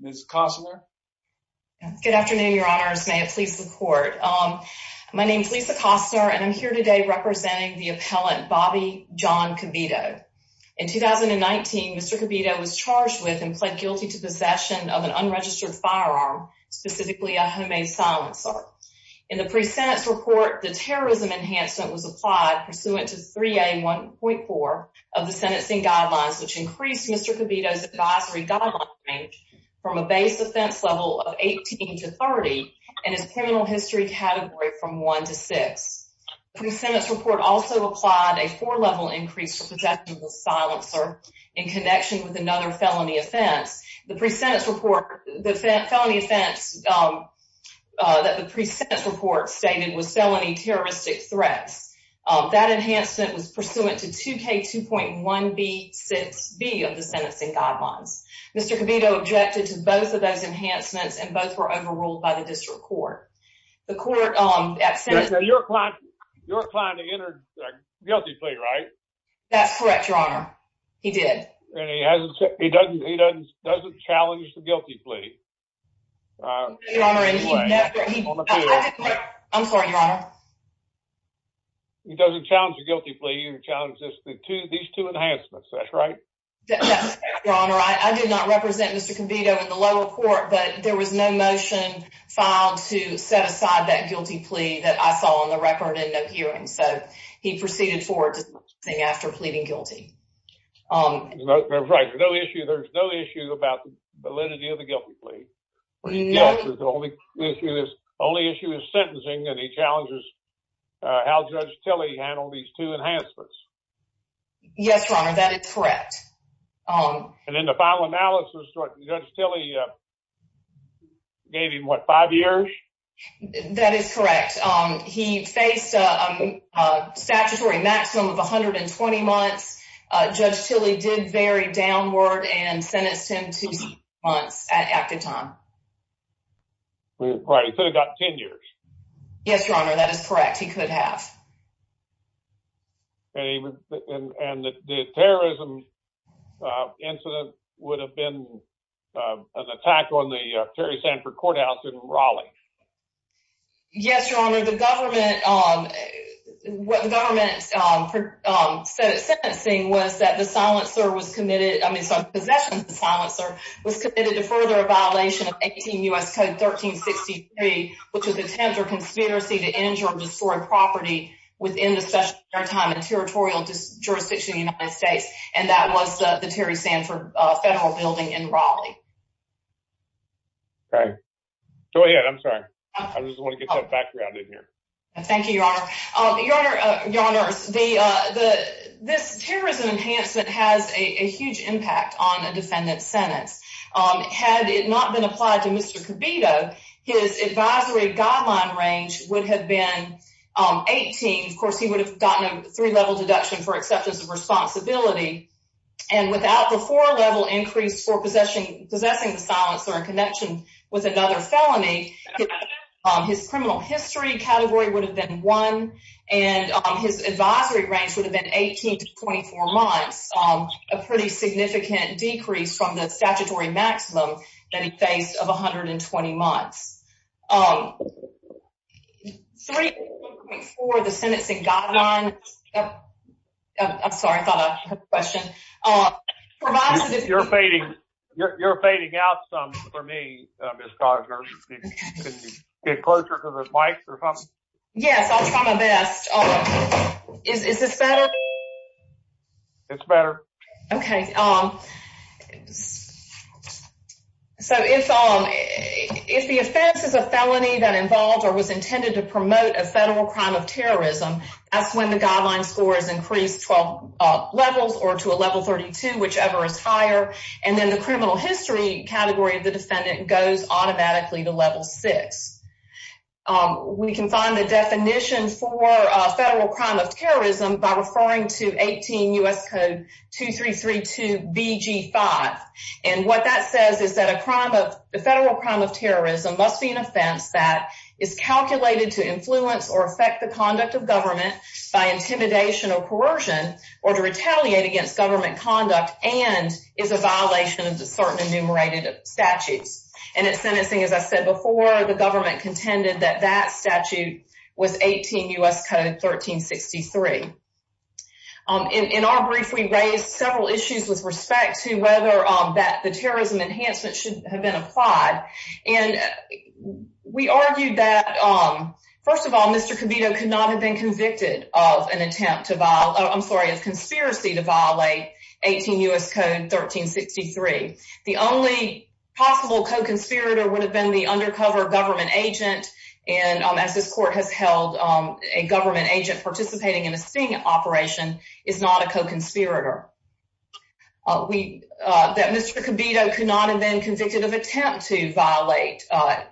Ms. Costner. Good afternoon, Your Honors. May it please the court. Um, my name is Lisa Costner, and I'm here today representing the appellant Bobby John Kobito. In 2019, Mr Kobito was charged with and pled guilty to possession of an unregistered firearm, specifically a homemade silencer. In the presenter's report, the terrorism enhancement was applied pursuant to three a 1.4 of the Kobito's advisory guideline range from a base offense level of 18 to 30 and his criminal history category from 1 to 6. The presenter's report also applied a four level increase for protection of the silencer in connection with another felony offense. The presenter's report, the felony offense, um, that the presenter's report stated was felony terroristic threats. That enhancement was pursuant to 2 K 2.1 B 6 B of the sentencing guidelines. Mr Kobito objected to both of those enhancements, and both were overruled by the district court. The court, um, your client, your client entered guilty plea, right? That's correct, Your Honor. He did. And he hasn't. He doesn't. He doesn't challenge the guilty plea. Uh, I'm sorry, Your Honor. He doesn't challenge the guilty plea and challenges the two. These two enhancements. That's right. Your Honor, I did not represent Mr Kobito in the lower court, but there was no motion filed to set aside that guilty plea that I saw on the record and no hearing. So he proceeded forward after pleading guilty. Um, that's right. No issue. There's no issue about the validity of the guilty plea. No, the only issue is only issue is sentencing. And he challenges how Judge Tilley handled these two enhancements. Yes, Your Honor, that is correct. Um, and then the final analysis, Judge Tilley, uh, gave him what? Five years. That is correct. Um, he faced a statutory maximum of 120 months. Judge Tilley did very downward and sentenced him to months at active time. Right. He could have got 10 years. Yes, Your Honor. That is correct. He could have. And the terrorism incident would have been an attack on the Terry Sanford courthouse in Raleigh. Yes, Your Honor. The government, um, what the government, um, um, sentencing was that the silencer was committed. I mean, some possessions. The silencer was committed to further a violation of 18 U. S. Code 13 63, which is attempt or conspiracy to injure or destroy property within the special time and territorial jurisdiction United States. And that was the Terry Sanford federal building in Raleigh. Okay, go ahead. I'm sorry. I just want to get that background in here. Thank you, Your Honor. Your Honor, Your Honor, the this terrorism enhancement has a huge impact on a defendant sentence. Had it not been applied to Mr Kibito, his advisory guideline range would have been 18. Of course, he would have gotten a three level deduction for acceptance of responsibility. And without the four level increase for possession, possessing the silencer in connection with another felony, his criminal history category would have been one, and his advisory range would have been 18 to 24 months. A pretty significant decrease from the statutory maximum that he faced of 120 months. Um, three for the sentence. It got on. I'm sorry. I thought a question. Uh, you're fading. You're fading out some for me. Get closer to the mic. Yes, I'll try my best. Is this better? It's better. Okay. Um, so it's on. If the offense is a felony that involved or was intended to promote a federal crime of terrorism, that's when the guideline scores increased 12 levels or to a level 32, whichever is higher. And then the criminal history category of the defendant goes automatically to level six. Um, we can find the definition for federal crime of terrorism by referring to 18 U. S. Code 2332 B G five. And what that says is that a crime of the federal crime of terrorism must be an offense that is calculated to influence or affect the conduct of government by intimidation or coercion or to retaliate against government conduct and is a violation of the certain enumerated statutes. And it's sentencing. As I said before, the government contended that that statute was 18 U. S. Code 13 63. Um, in our brief, we raised several issues with respect to whether that the terrorism enhancement should have been applied. And we argued that, um, first of all, Mr Cavito could not have been convicted of an attempt to vile. I'm sorry, a conspiracy to violate 18 U. S. Code 13 63. The only possible co agent. And as this court has held a government agent participating in a sting operation is not a co conspirator. We that Mr Cavito could not have been convicted of attempt to violate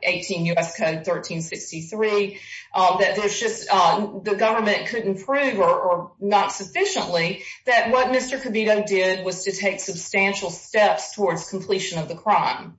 18 U. S. Code 13 63 that there's just the government couldn't prove or not sufficiently that what Mr Cavito did was to take substantial steps towards completion of the crime.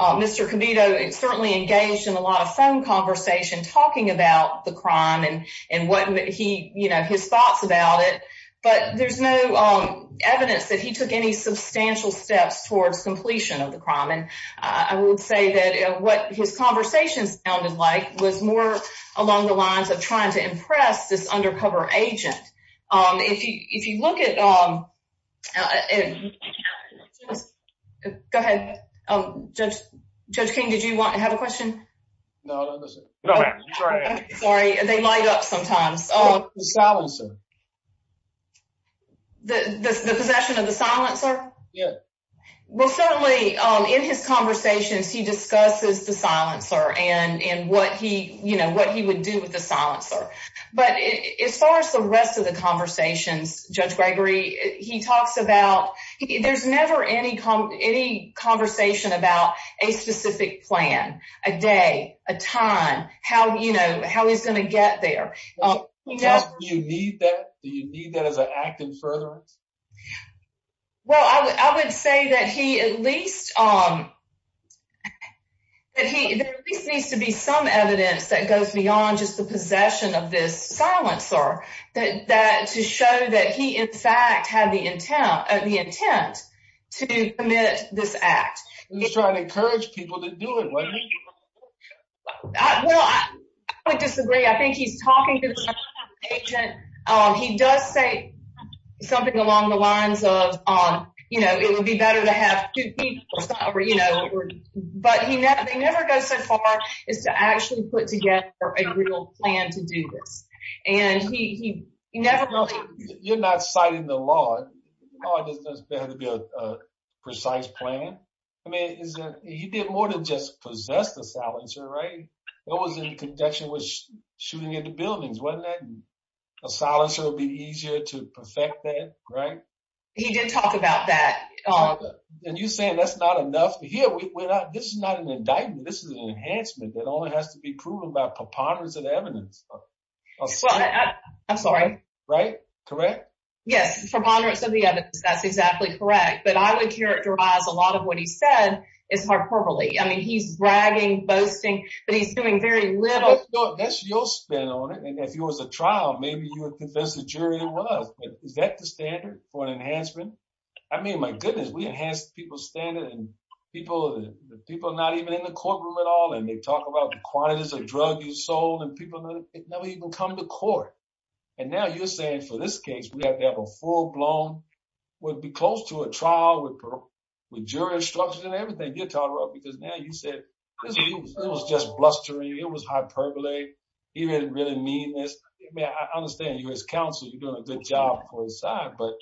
Mr Cavito certainly engaged in a lot of phone conversation talking about the crime and and what he, you know, his thoughts about it. But there's no evidence that he took any substantial steps towards completion of the crime. And I would say that what his conversations sounded like was more along the lines of trying to impress this undercover agent. Um, if you if you look at, um, uh, go ahead. Um, Judge Judge King, did you want to have a question? No, no, no, ma'am. Sorry. They light up sometimes. Oh, the silencer. The possession of the silencer. Yeah. Well, certainly in his conversations, he discusses the silencer and and what he you know what he would do with the silencer. But as far as the rest of the conversations, Judge Gregory, he talks about there's never any any conversation about a specific plan, a day, a time, how you know how he's gonna get there. You know, you need that. Do you need that as an active furtherance? Well, I would say that he at least, um, that he at least needs to be some evidence that goes beyond just the the intent to commit this act. He's trying to encourage people to do it. Well, I would disagree. I think he's talking to agent. He does say something along the lines of, you know, it would be better to have two people, you know, but he never never goes so far is to actually put together a real plan to do this. And he never really you're not citing the law. Oh, it doesn't have to be a precise plan. I mean, he did more than just possess the silencer, right? It was in conjunction with shooting into buildings. Wasn't that a silencer would be easier to perfect that, right? He did talk about that. And you're saying that's not enough here. We're not. This is not an indictment. This is an enhancement that only has to be proven by preponderance of evidence. I'm sorry, right, correct? Yes, preponderance of the evidence. That's exactly correct. But I would characterize a lot of what he said is hyperbole. I mean, he's bragging, boasting, but he's doing very little. That's your spin on it. And if it was a trial, maybe you would confess the jury it was. Is that the standard for an enhancement? I mean, my goodness, we and they talk about the quantities of drug you sold and people that never even come to court. And now you're saying for this case, we have to have a full blown would be close to a trial with with jury instructions and everything you're talking about, because now you said it was just blustering. It was hyperbole. He didn't really mean this. I understand you as counsel. You're doing a good job for his side. But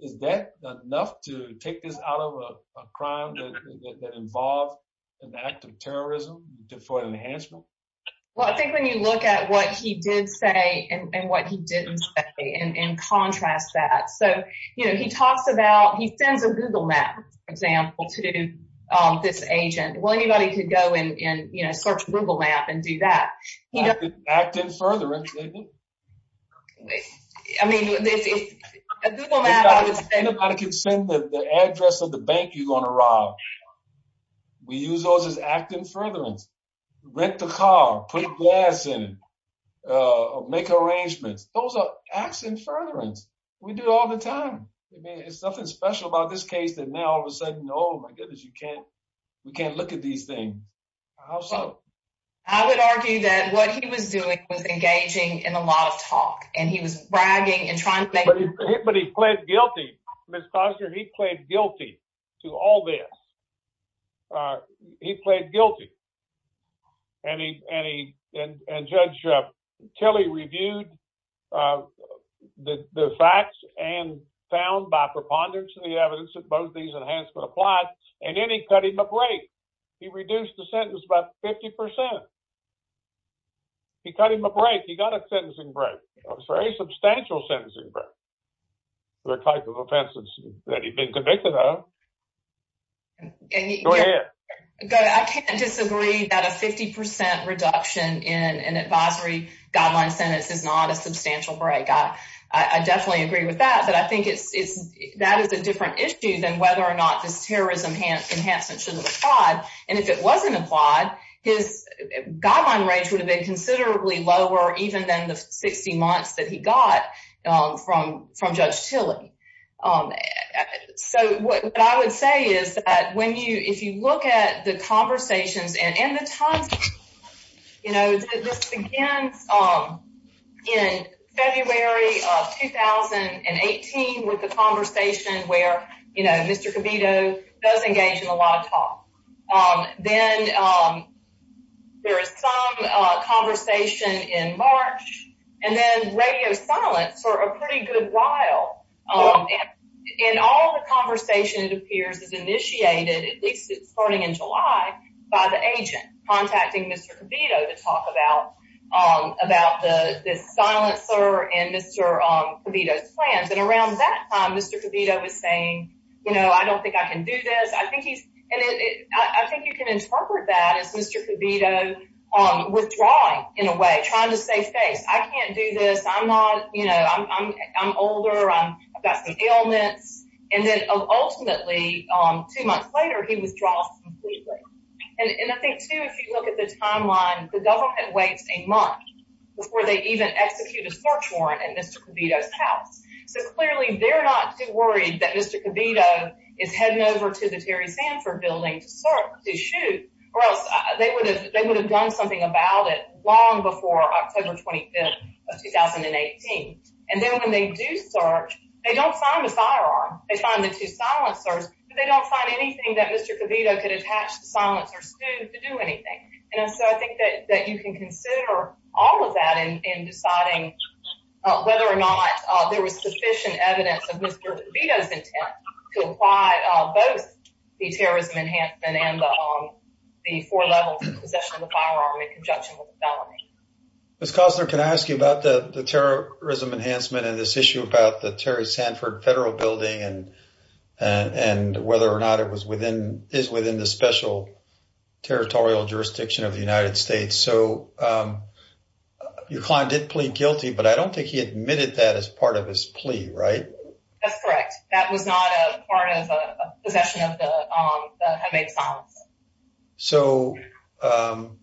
is that enough to take this out of a crime that involved in the act of terrorism for an enhancement? Well, I think when you look at what he did say and what he didn't say and contrast that so, you know, he talks about he sends a Google map, for example, to this agent. Well, anybody could go and, you know, search Google map and do that. He doesn't act in further. I mean, this is a Google map. I would say nobody could send the address of the bank. You're gonna rob. We use those is acting furtherance. Rent the car. Put gas in it. Uh, make arrangements. Those are acts in furtherance. We do all the time. I mean, it's something special about this case that now all of a sudden, Oh, my goodness, you can't. We can't look at these things. How I would argue that what he was doing was engaging in a lot of talk, and he was bragging and trying, but he pled guilty. Miss Foster, he pled guilty to all this. Uh, he pled guilty. And he and he and Judge Kelly reviewed, uh, the facts and found by preponderance of the evidence that both these enhancements apply. And then he cut him a break. He reduced the sentence about 50%. He cut him a break. He got a sentencing break. I'm sorry. Substantial sentencing break. The type of offenses that he's been convicted of. Go ahead. I can't disagree that a 50% reduction in an advisory guideline sentence is not a substantial break. I I definitely agree with that. But I think it's that is a different issue than whether or not this terrorism enhancements should have applied. And if it wasn't applied, his guideline rates would have been considerably lower, even than the 60 months that he got from from Judge Tilly. Um, so what I would say is that when you if you look at the conversations and in the time, you know, this begins, um, in February of 2000 and 18 with the conversation where, you know, Mr does engage in a lot of talk. Um, then, um, there is some conversation in March and then radio silence for a pretty good while. Um, in all the conversation, it appears is initiated, at least starting in July by the agent contacting Mr Kibito to talk about, um, about the silencer and Mr Kibito's you know, I don't think I can do this. I think he's and I think you can interpret that as Mr Kibito withdrawing in a way trying to save face. I can't do this. I'm not, you know, I'm I'm older. I've got some ailments. And then ultimately, um, two months later, he withdraws completely. And I think, too, if you look at the timeline, the government waits a month before they even execute a search warrant and Mr Kibito's house. So clearly, they're not too worried that Mr Kibito is heading over to the Terry Sanford building to start to shoot or else they would have. They would have done something about it long before October 25th of 2000 and 18. And then when they do search, they don't find the firearm. They find the two silencers, but they don't find anything that Mr Kibito could attach the silencer student to do anything. And so I think that that you can consider all of that in deciding whether or not there was sufficient evidence of Mr Kibito's intent to apply both the terrorism enhancement and the four levels of possession of the firearm in conjunction with the felony. Miss Costner, can I ask you about the terrorism enhancement and this issue about the Terry Sanford federal building and and whether or not it was within is within the special territorial jurisdiction of the United States. So, um, your client did plead guilty, but I don't think he admitted that as part of his plea, right? That's correct. That was not a part of a possession of the, um, have made silence. So, um,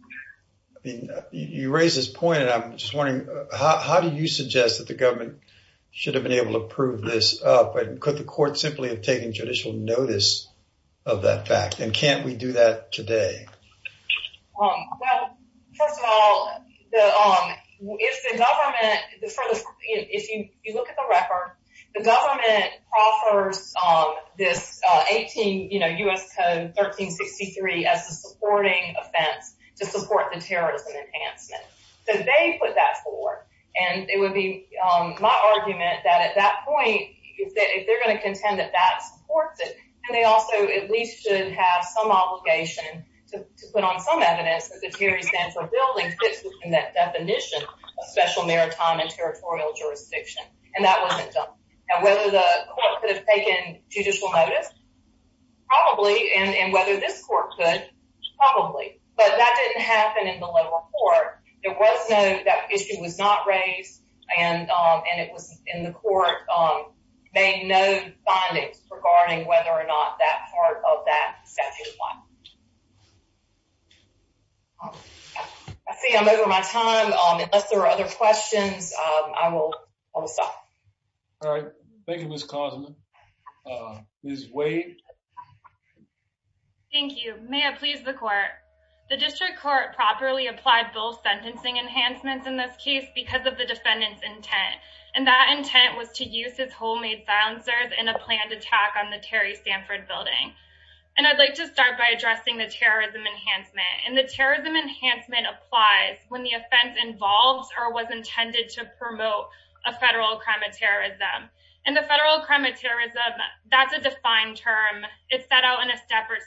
you raise this point and I'm just wondering, how do you suggest that the government should have been able to prove this up? And could the court simply have taken judicial notice of that fact? And can't we do that today? Um, first of all, if the government, if you look at the record, the government offers this 18 U. S. Code 13 63 as a supporting offense to support the terrorism enhancement. So they put that forward and it would be my argument that at that point, if they're going to contend that that supports it, and they also at least should have some obligation to put on some evidence that the Terry Sanford building fits within that definition of special maritime and territorial jurisdiction. And that wasn't done. And whether the court could have taken judicial notice, probably, and whether this court could probably, but that didn't happen in the lower court. There was no that issue was not raised, and it was in the court. They know findings regarding whether or not that part of that I think I'm over my time. Unless there are other questions, I will stop. All right. Thank you, Miss Cosmo. Uh, his way. Thank you. May I please the court? The district court properly applied both sentencing enhancements in this case because of the defendant's intent, and that intent was to use his homemade bouncers in a planned attack on the Terry Sanford building. And I'd like to start by addressing the terrorism enhancement and the terrorism enhancement applies when the offense involves or was intended to promote a federal crime of terrorism and the federal crime of terrorism. That's a defined term. It's set out in a step or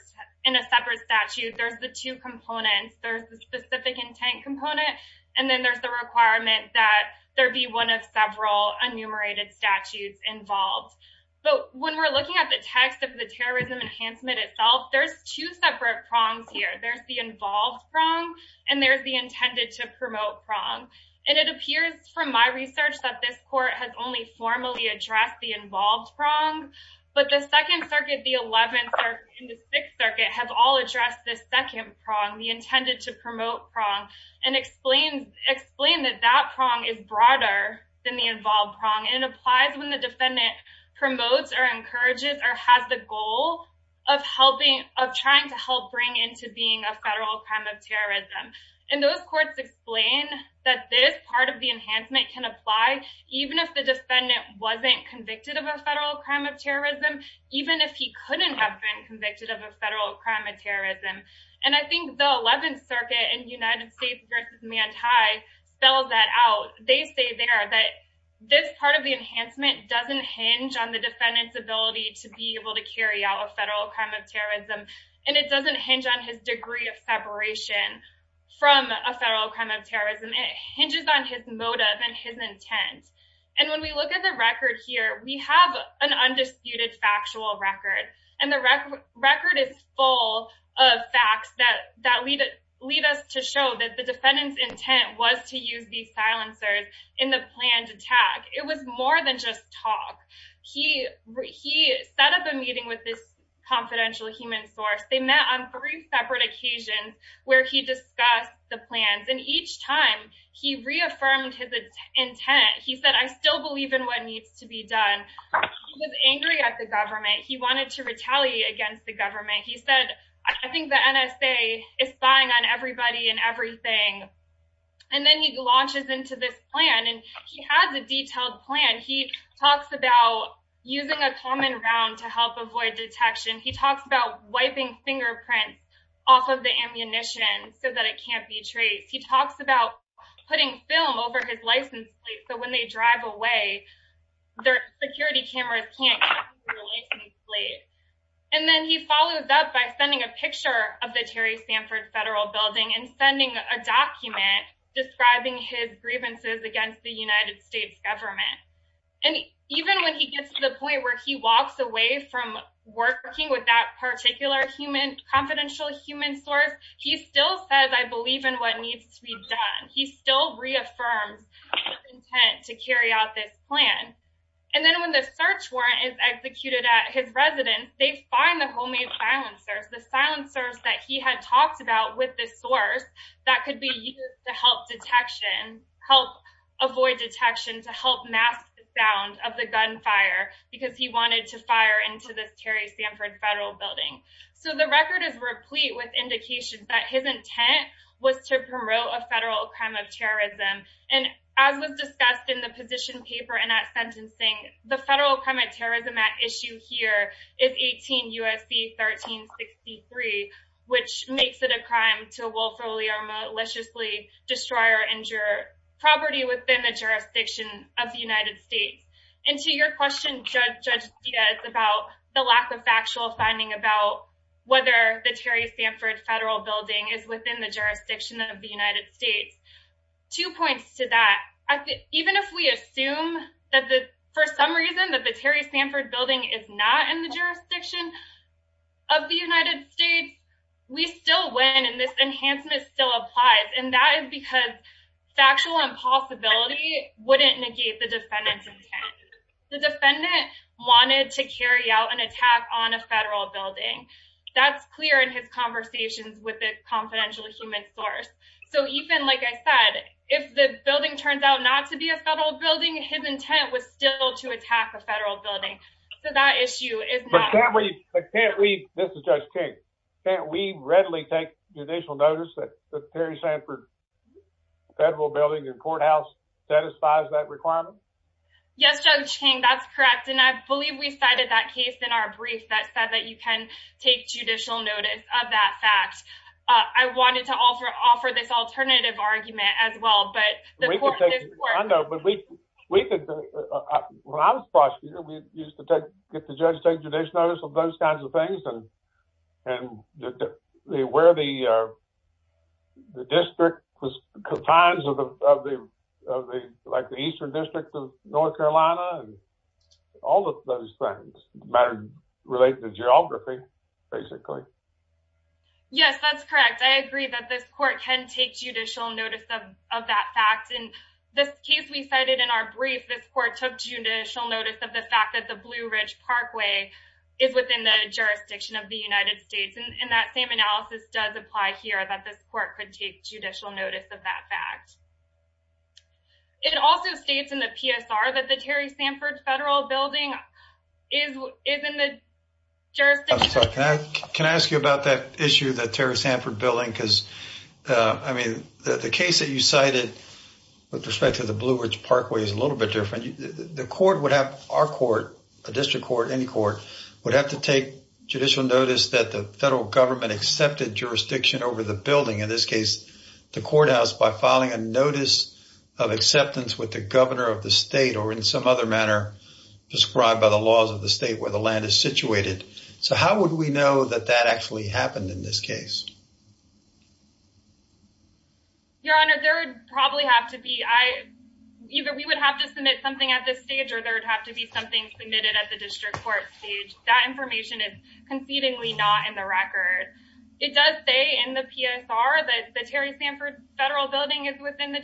in a separate statute. There's the two components. There's the specific intent component, and then there's the requirement that there be one of several enumerated statutes involved. But when we're looking at the text of the terrorism enhancement itself, there's two separate prongs here. There's the involved prong, and there's the intended to promote prong, and it appears from my research that this court has only formally addressed the involved prong. But the Second Circuit, the 11th or in the Sixth Circuit have all addressed this second prong, the intended to promote prong, and explain that that prong is broader than the involved prong. It applies when the defendant promotes or encourages or has the goal of trying to help bring into being a federal crime of terrorism. And those courts explain that this part of the enhancement can apply even if the defendant wasn't convicted of a federal crime of terrorism, even if he couldn't have been convicted of a federal crime of terrorism. And I think the 11th Circuit in United States versus Manti spells that out. They say there that this part of the enhancement doesn't hinge on the defendant's ability to be able to carry out a federal crime of terrorism, and it doesn't hinge on his degree of separation from a federal crime of terrorism. It hinges on his motive and his intent. And when we look at the record here, we have an undisputed factual record, and the record is full of facts that lead us to show that the defendant's intent was to use these silencers in the planned attack. It was more than just talk. He set up a meeting with this confidential human source. They met on three separate occasions where he discussed the plans, and each time he reaffirmed his intent. He said, I still believe in what needs to be done. He was angry at the government. He said, I think the NSA is spying on everybody and everything. And then he launches into this plan, and he has a detailed plan. He talks about using a common round to help avoid detection. He talks about wiping fingerprints off of the ammunition so that it can't be traced. He talks about putting film over his license plate so when they drive away, their security cameras can't get to the license plate. And then he follows up by sending a picture of the Terry Sanford Federal Building and sending a document describing his grievances against the United States government. And even when he gets to the point where he walks away from working with that particular human, confidential human source, he still says, I believe in what needs to be done. He still reaffirms his intent to carry out this plan. And then when the search warrant is executed at his residence, they find the homemade silencers, the silencers that he had talked about with this source, that could be used to help detection, help avoid detection, to help mask the sound of the gunfire, because he wanted to fire into this Terry Sanford Federal Building. So the record is replete with indications that his intent was to promote a federal crime of terrorism. And as was discussed in the position paper and at sentencing, the federal crime of terrorism at issue here is 18 U.S.C. 1363, which makes it a crime to willfully or maliciously destroy or injure property within the jurisdiction of the United States. And to your question, Judge, Judge Diaz, about the lack of factual finding about whether the Terry Sanford Federal Building is within the jurisdiction of the United States. Two points to that. Even if we assume that the for some reason that the Terry Sanford Building is not in the jurisdiction of the United States, we still win and this enhancement still applies. And that is because factual impossibility wouldn't negate the defendant's intent. The defendant wanted to carry out an attack on a federal building. That's clear in his opinion. Like I said, if the building turns out not to be a federal building, his intent was still to attack a federal building. So that issue is I can't read. This is just can't we readily take judicial notice that the Terry Sanford Federal Building and courthouse satisfies that requirement? Yes, Judge King, that's correct. And I believe we cited that case in our brief that said that you can take judicial notice of that fact. I wanted to offer offer this alternative argument as well. But we think when I was a prosecutor, we used to take get the judge take judicial notice of those kinds of things. And, and the where the district was kind of the like the Eastern District of North Carolina and all of those things matter related to geography, basically. Yes, that's correct. I agree that this court can take judicial notice of of that fact. And this case we cited in our brief, this court took judicial notice of the fact that the Blue Ridge Parkway is within the jurisdiction of the United States. And that same analysis does apply here that this court could take judicial notice of that fact. It also states in the PSR that the Terry Sanford Federal Building is is in jurisdiction. Can I ask you about that issue that Terry Sanford Building because I mean, the case that you cited with respect to the Blue Ridge Parkway is a little bit different. The court would have our court, a district court, any court would have to take judicial notice that the federal government accepted jurisdiction over the building in this case, the courthouse by filing a notice of acceptance with the governor of the state or in some other manner, prescribed by the laws of the state where the land is situated. So how would we know that that actually happened in this case? Your Honor, there would probably have to be I either we would have to submit something at this stage or there would have to be something submitted at the district court stage. That information is concedingly not in the record. It does say in the PSR that the Terry Sanford Federal Building is within the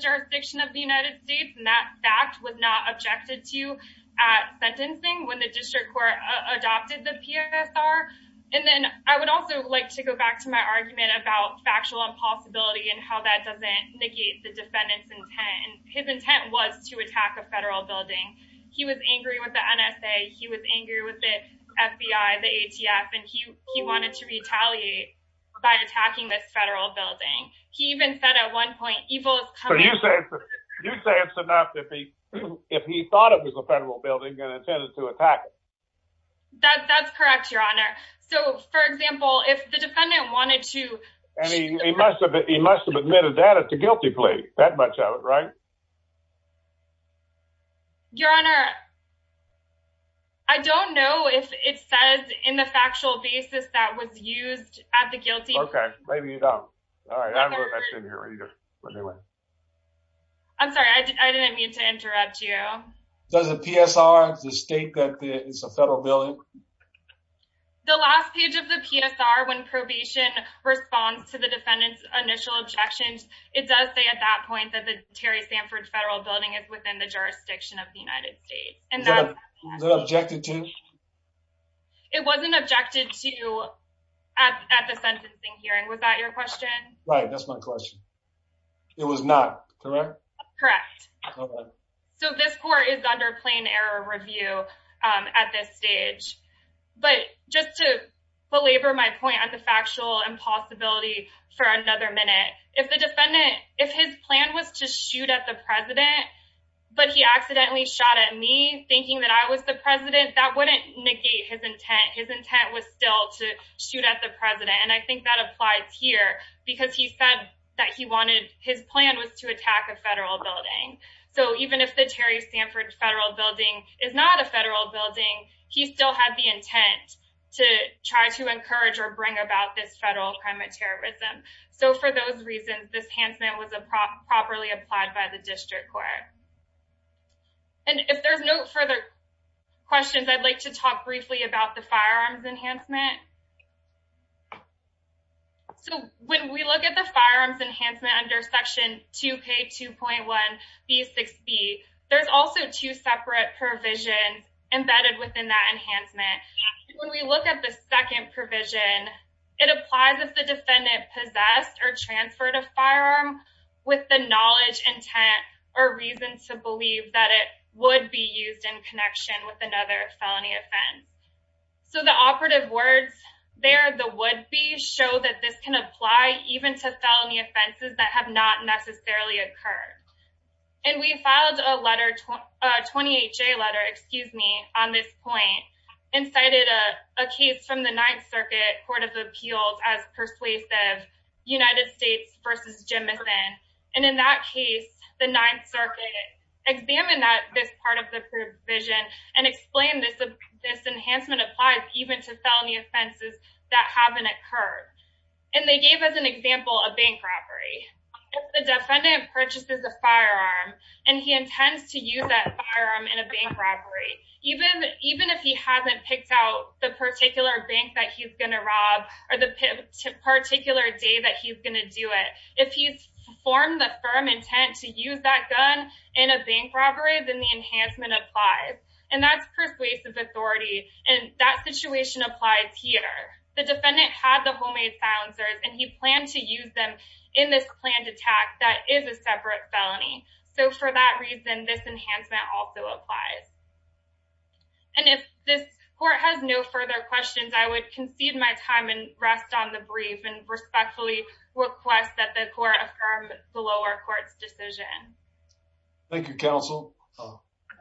district court adopted the PSR. And then I would also like to go back to my argument about factual impossibility and how that doesn't negate the defendant's intent. And his intent was to attack a federal building. He was angry with the NSA. He was angry with the FBI, the ATF, and he he wanted to retaliate by attacking this federal building. He even said at one point evil. So you say you say it's enough if he if he thought it was a federal building and intended to attack it. That's correct, Your Honor. So, for example, if the defendant wanted to, I mean, he must have. He must have admitted that at the guilty plea that much of it, right? Your Honor, I don't know if it says in the factual basis that was used at the guilty. Okay, maybe you don't. All right. I don't know that's in here either. I'm sorry. I didn't mean to interrupt you. Does the PSR state that it's a federal building? The last page of the PSR when probation responds to the defendant's initial objections, it does say at that point that the Terry Sanford Federal Building is within the jurisdiction of the United States. And that was objected to. It wasn't objected to at the sentencing hearing. Was that your question? Right. That's my question. It was not correct. Correct. So this court is under plain error review at this stage. But just to belabor my point at the factual impossibility for another minute, if the defendant if his plan was to shoot at the president, but he accidentally shot at me thinking that I was the president, that wouldn't negate his intent. His intent was still to shoot at the president. And I think that applies here because he said that he wanted his plan was to attack a federal building. So even if the Terry Sanford Federal Building is not a federal building, he still had the intent to try to encourage or bring about this federal crime of terrorism. So for those reasons, this enhancement was a properly applied by the district court. And if there's no further questions, I'd like to talk briefly about the firearms enhancement. So when we look at the firearms enhancement under Section 2k2.1b6b, there's also two separate provisions embedded within that enhancement. When we look at the second provision, it applies if the defendant possessed or transferred a firearm with the knowledge, intent, or reason to believe that it would be used in connection with another felony offense. So the operative words there, the would be show that this can apply even to felony offenses that have not necessarily occurred. And we filed a letter, 28 J letter, excuse me, on this point, incited a case from the Ninth Circuit Court of Appeals as persuasive United States versus Jemison. And in that case, the Ninth Circuit examined that this part of the provision and explained this, this enhancement applies even to felony offenses that haven't occurred. And they gave us an example of bank robbery. If the defendant purchases a firearm and he intends to use that firearm in a bank robbery, even, even if he hasn't picked out the particular bank that he's going to rob or the particular day that he's going to do it, if he's formed the firm intent to use that gun in a bank robbery, then the enhancement applies. And that's persuasive authority. And that situation applies here. The defendant had the homemade silencers and he planned to use them in this planned attack. That is a separate felony. So for that reason, this enhancement also applies. And if this court has no further questions, I would concede my time and rest on the brief and respectfully request that the court affirm the lower court's decision. Thank you, counsel.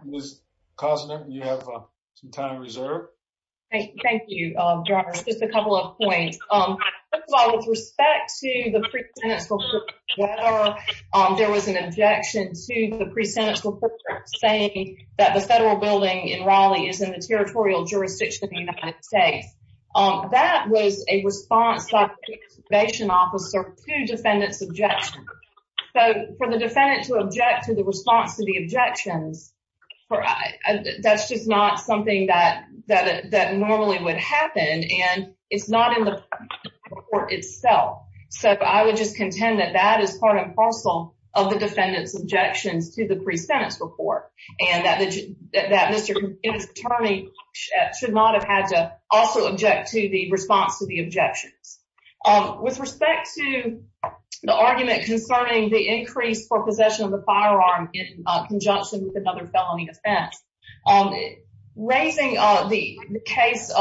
Ms. Kozner, you have some time reserved. Thank you, Dr. Harris. Just a couple of points. First of all, with respect to the pre-sentence, there was an objection to the pre-sentence saying that the federal building in Raleigh is in the territorial jurisdiction of the United States. That was a response by the probation officer to defendant's objection. So for the defendant to object to the response to the objections, that's just not something that normally would happen. And it's not in the report itself. So I would just contend that that is part and parcel of the defendant's objections to the pre-sentence report and that Mr. Inman's attorney should not have had to also object to the response to the objections. With respect to the argument concerning the increase for possession of the firearm in conjunction with another felony offense, raising the case,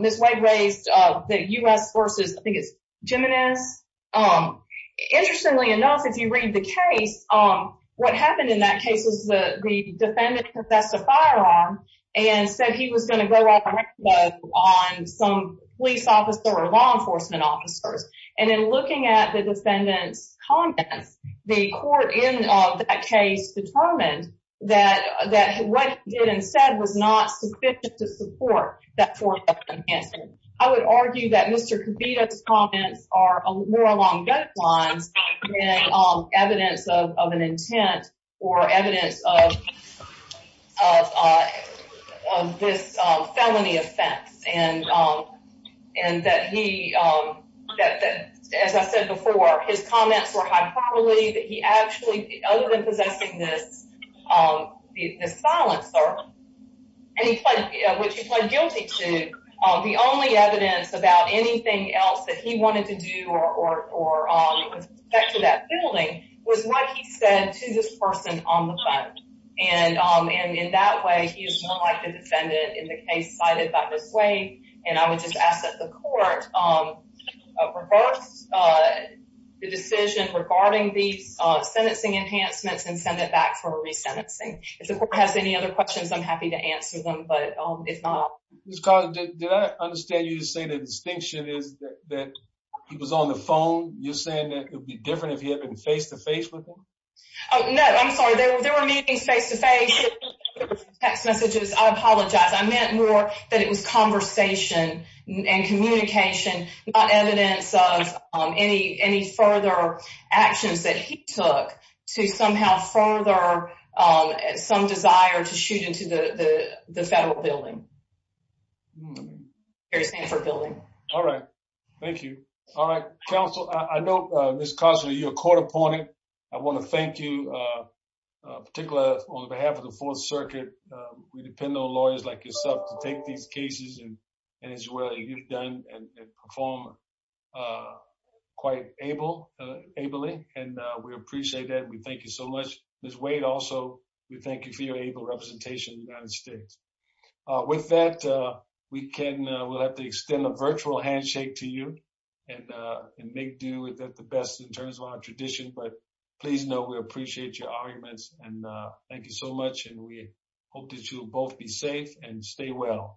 Ms. Wade raised the U.S. versus, I think it's Jimenez. Interestingly enough, if you read the case, what happened in that case was the defendant possessed a firearm and said he was going to go off on some police officer or law enforcement officers. And in looking at the defendant's comments, the court in that case determined that what he did instead was not sufficient to support that fourth offense. I would argue that Mr. Kibita's comments are more along those lines than evidence of an intent or evidence of this felony offense. And that he, as I said before, his comments were hyperbole, that he actually, other than possessing this silencer, which he pled guilty to, the only evidence about anything else that he wanted to do or with respect to that felony was what he said to this person on the phone. And in that way, he is more like the defendant in the case cited by Ms. Wade. And I would just ask that the court reverse the decision regarding these sentencing enhancements and send it back for resentencing. If the court has any other questions, I'm happy to answer them, but if not... Did I understand you to say the distinction is that he was on the phone? You're saying that it would be different if he had been face-to-face with him? No, I'm sorry. There were meetings face-to-face, text messages. I apologize. I meant more that it was conversation and communication, not evidence of any further actions that he took to somehow further some desire to shoot into the federal building, the Harry Stanford building. All right. Thank you. All right. Counsel, I know, Ms. Costner, you're a court opponent. I want to thank you, particularly on behalf of the Fourth Circuit. We depend on lawyers like yourself to take these cases and as well as you've done and perform quite ably. And we appreciate that. We thank you so much. Ms. Wade, also, we thank you for your able representation in the United States. With that, we'll have to extend a virtual handshake to you and make do with it the best in terms of our tradition, but please know we appreciate your arguments. And thank you so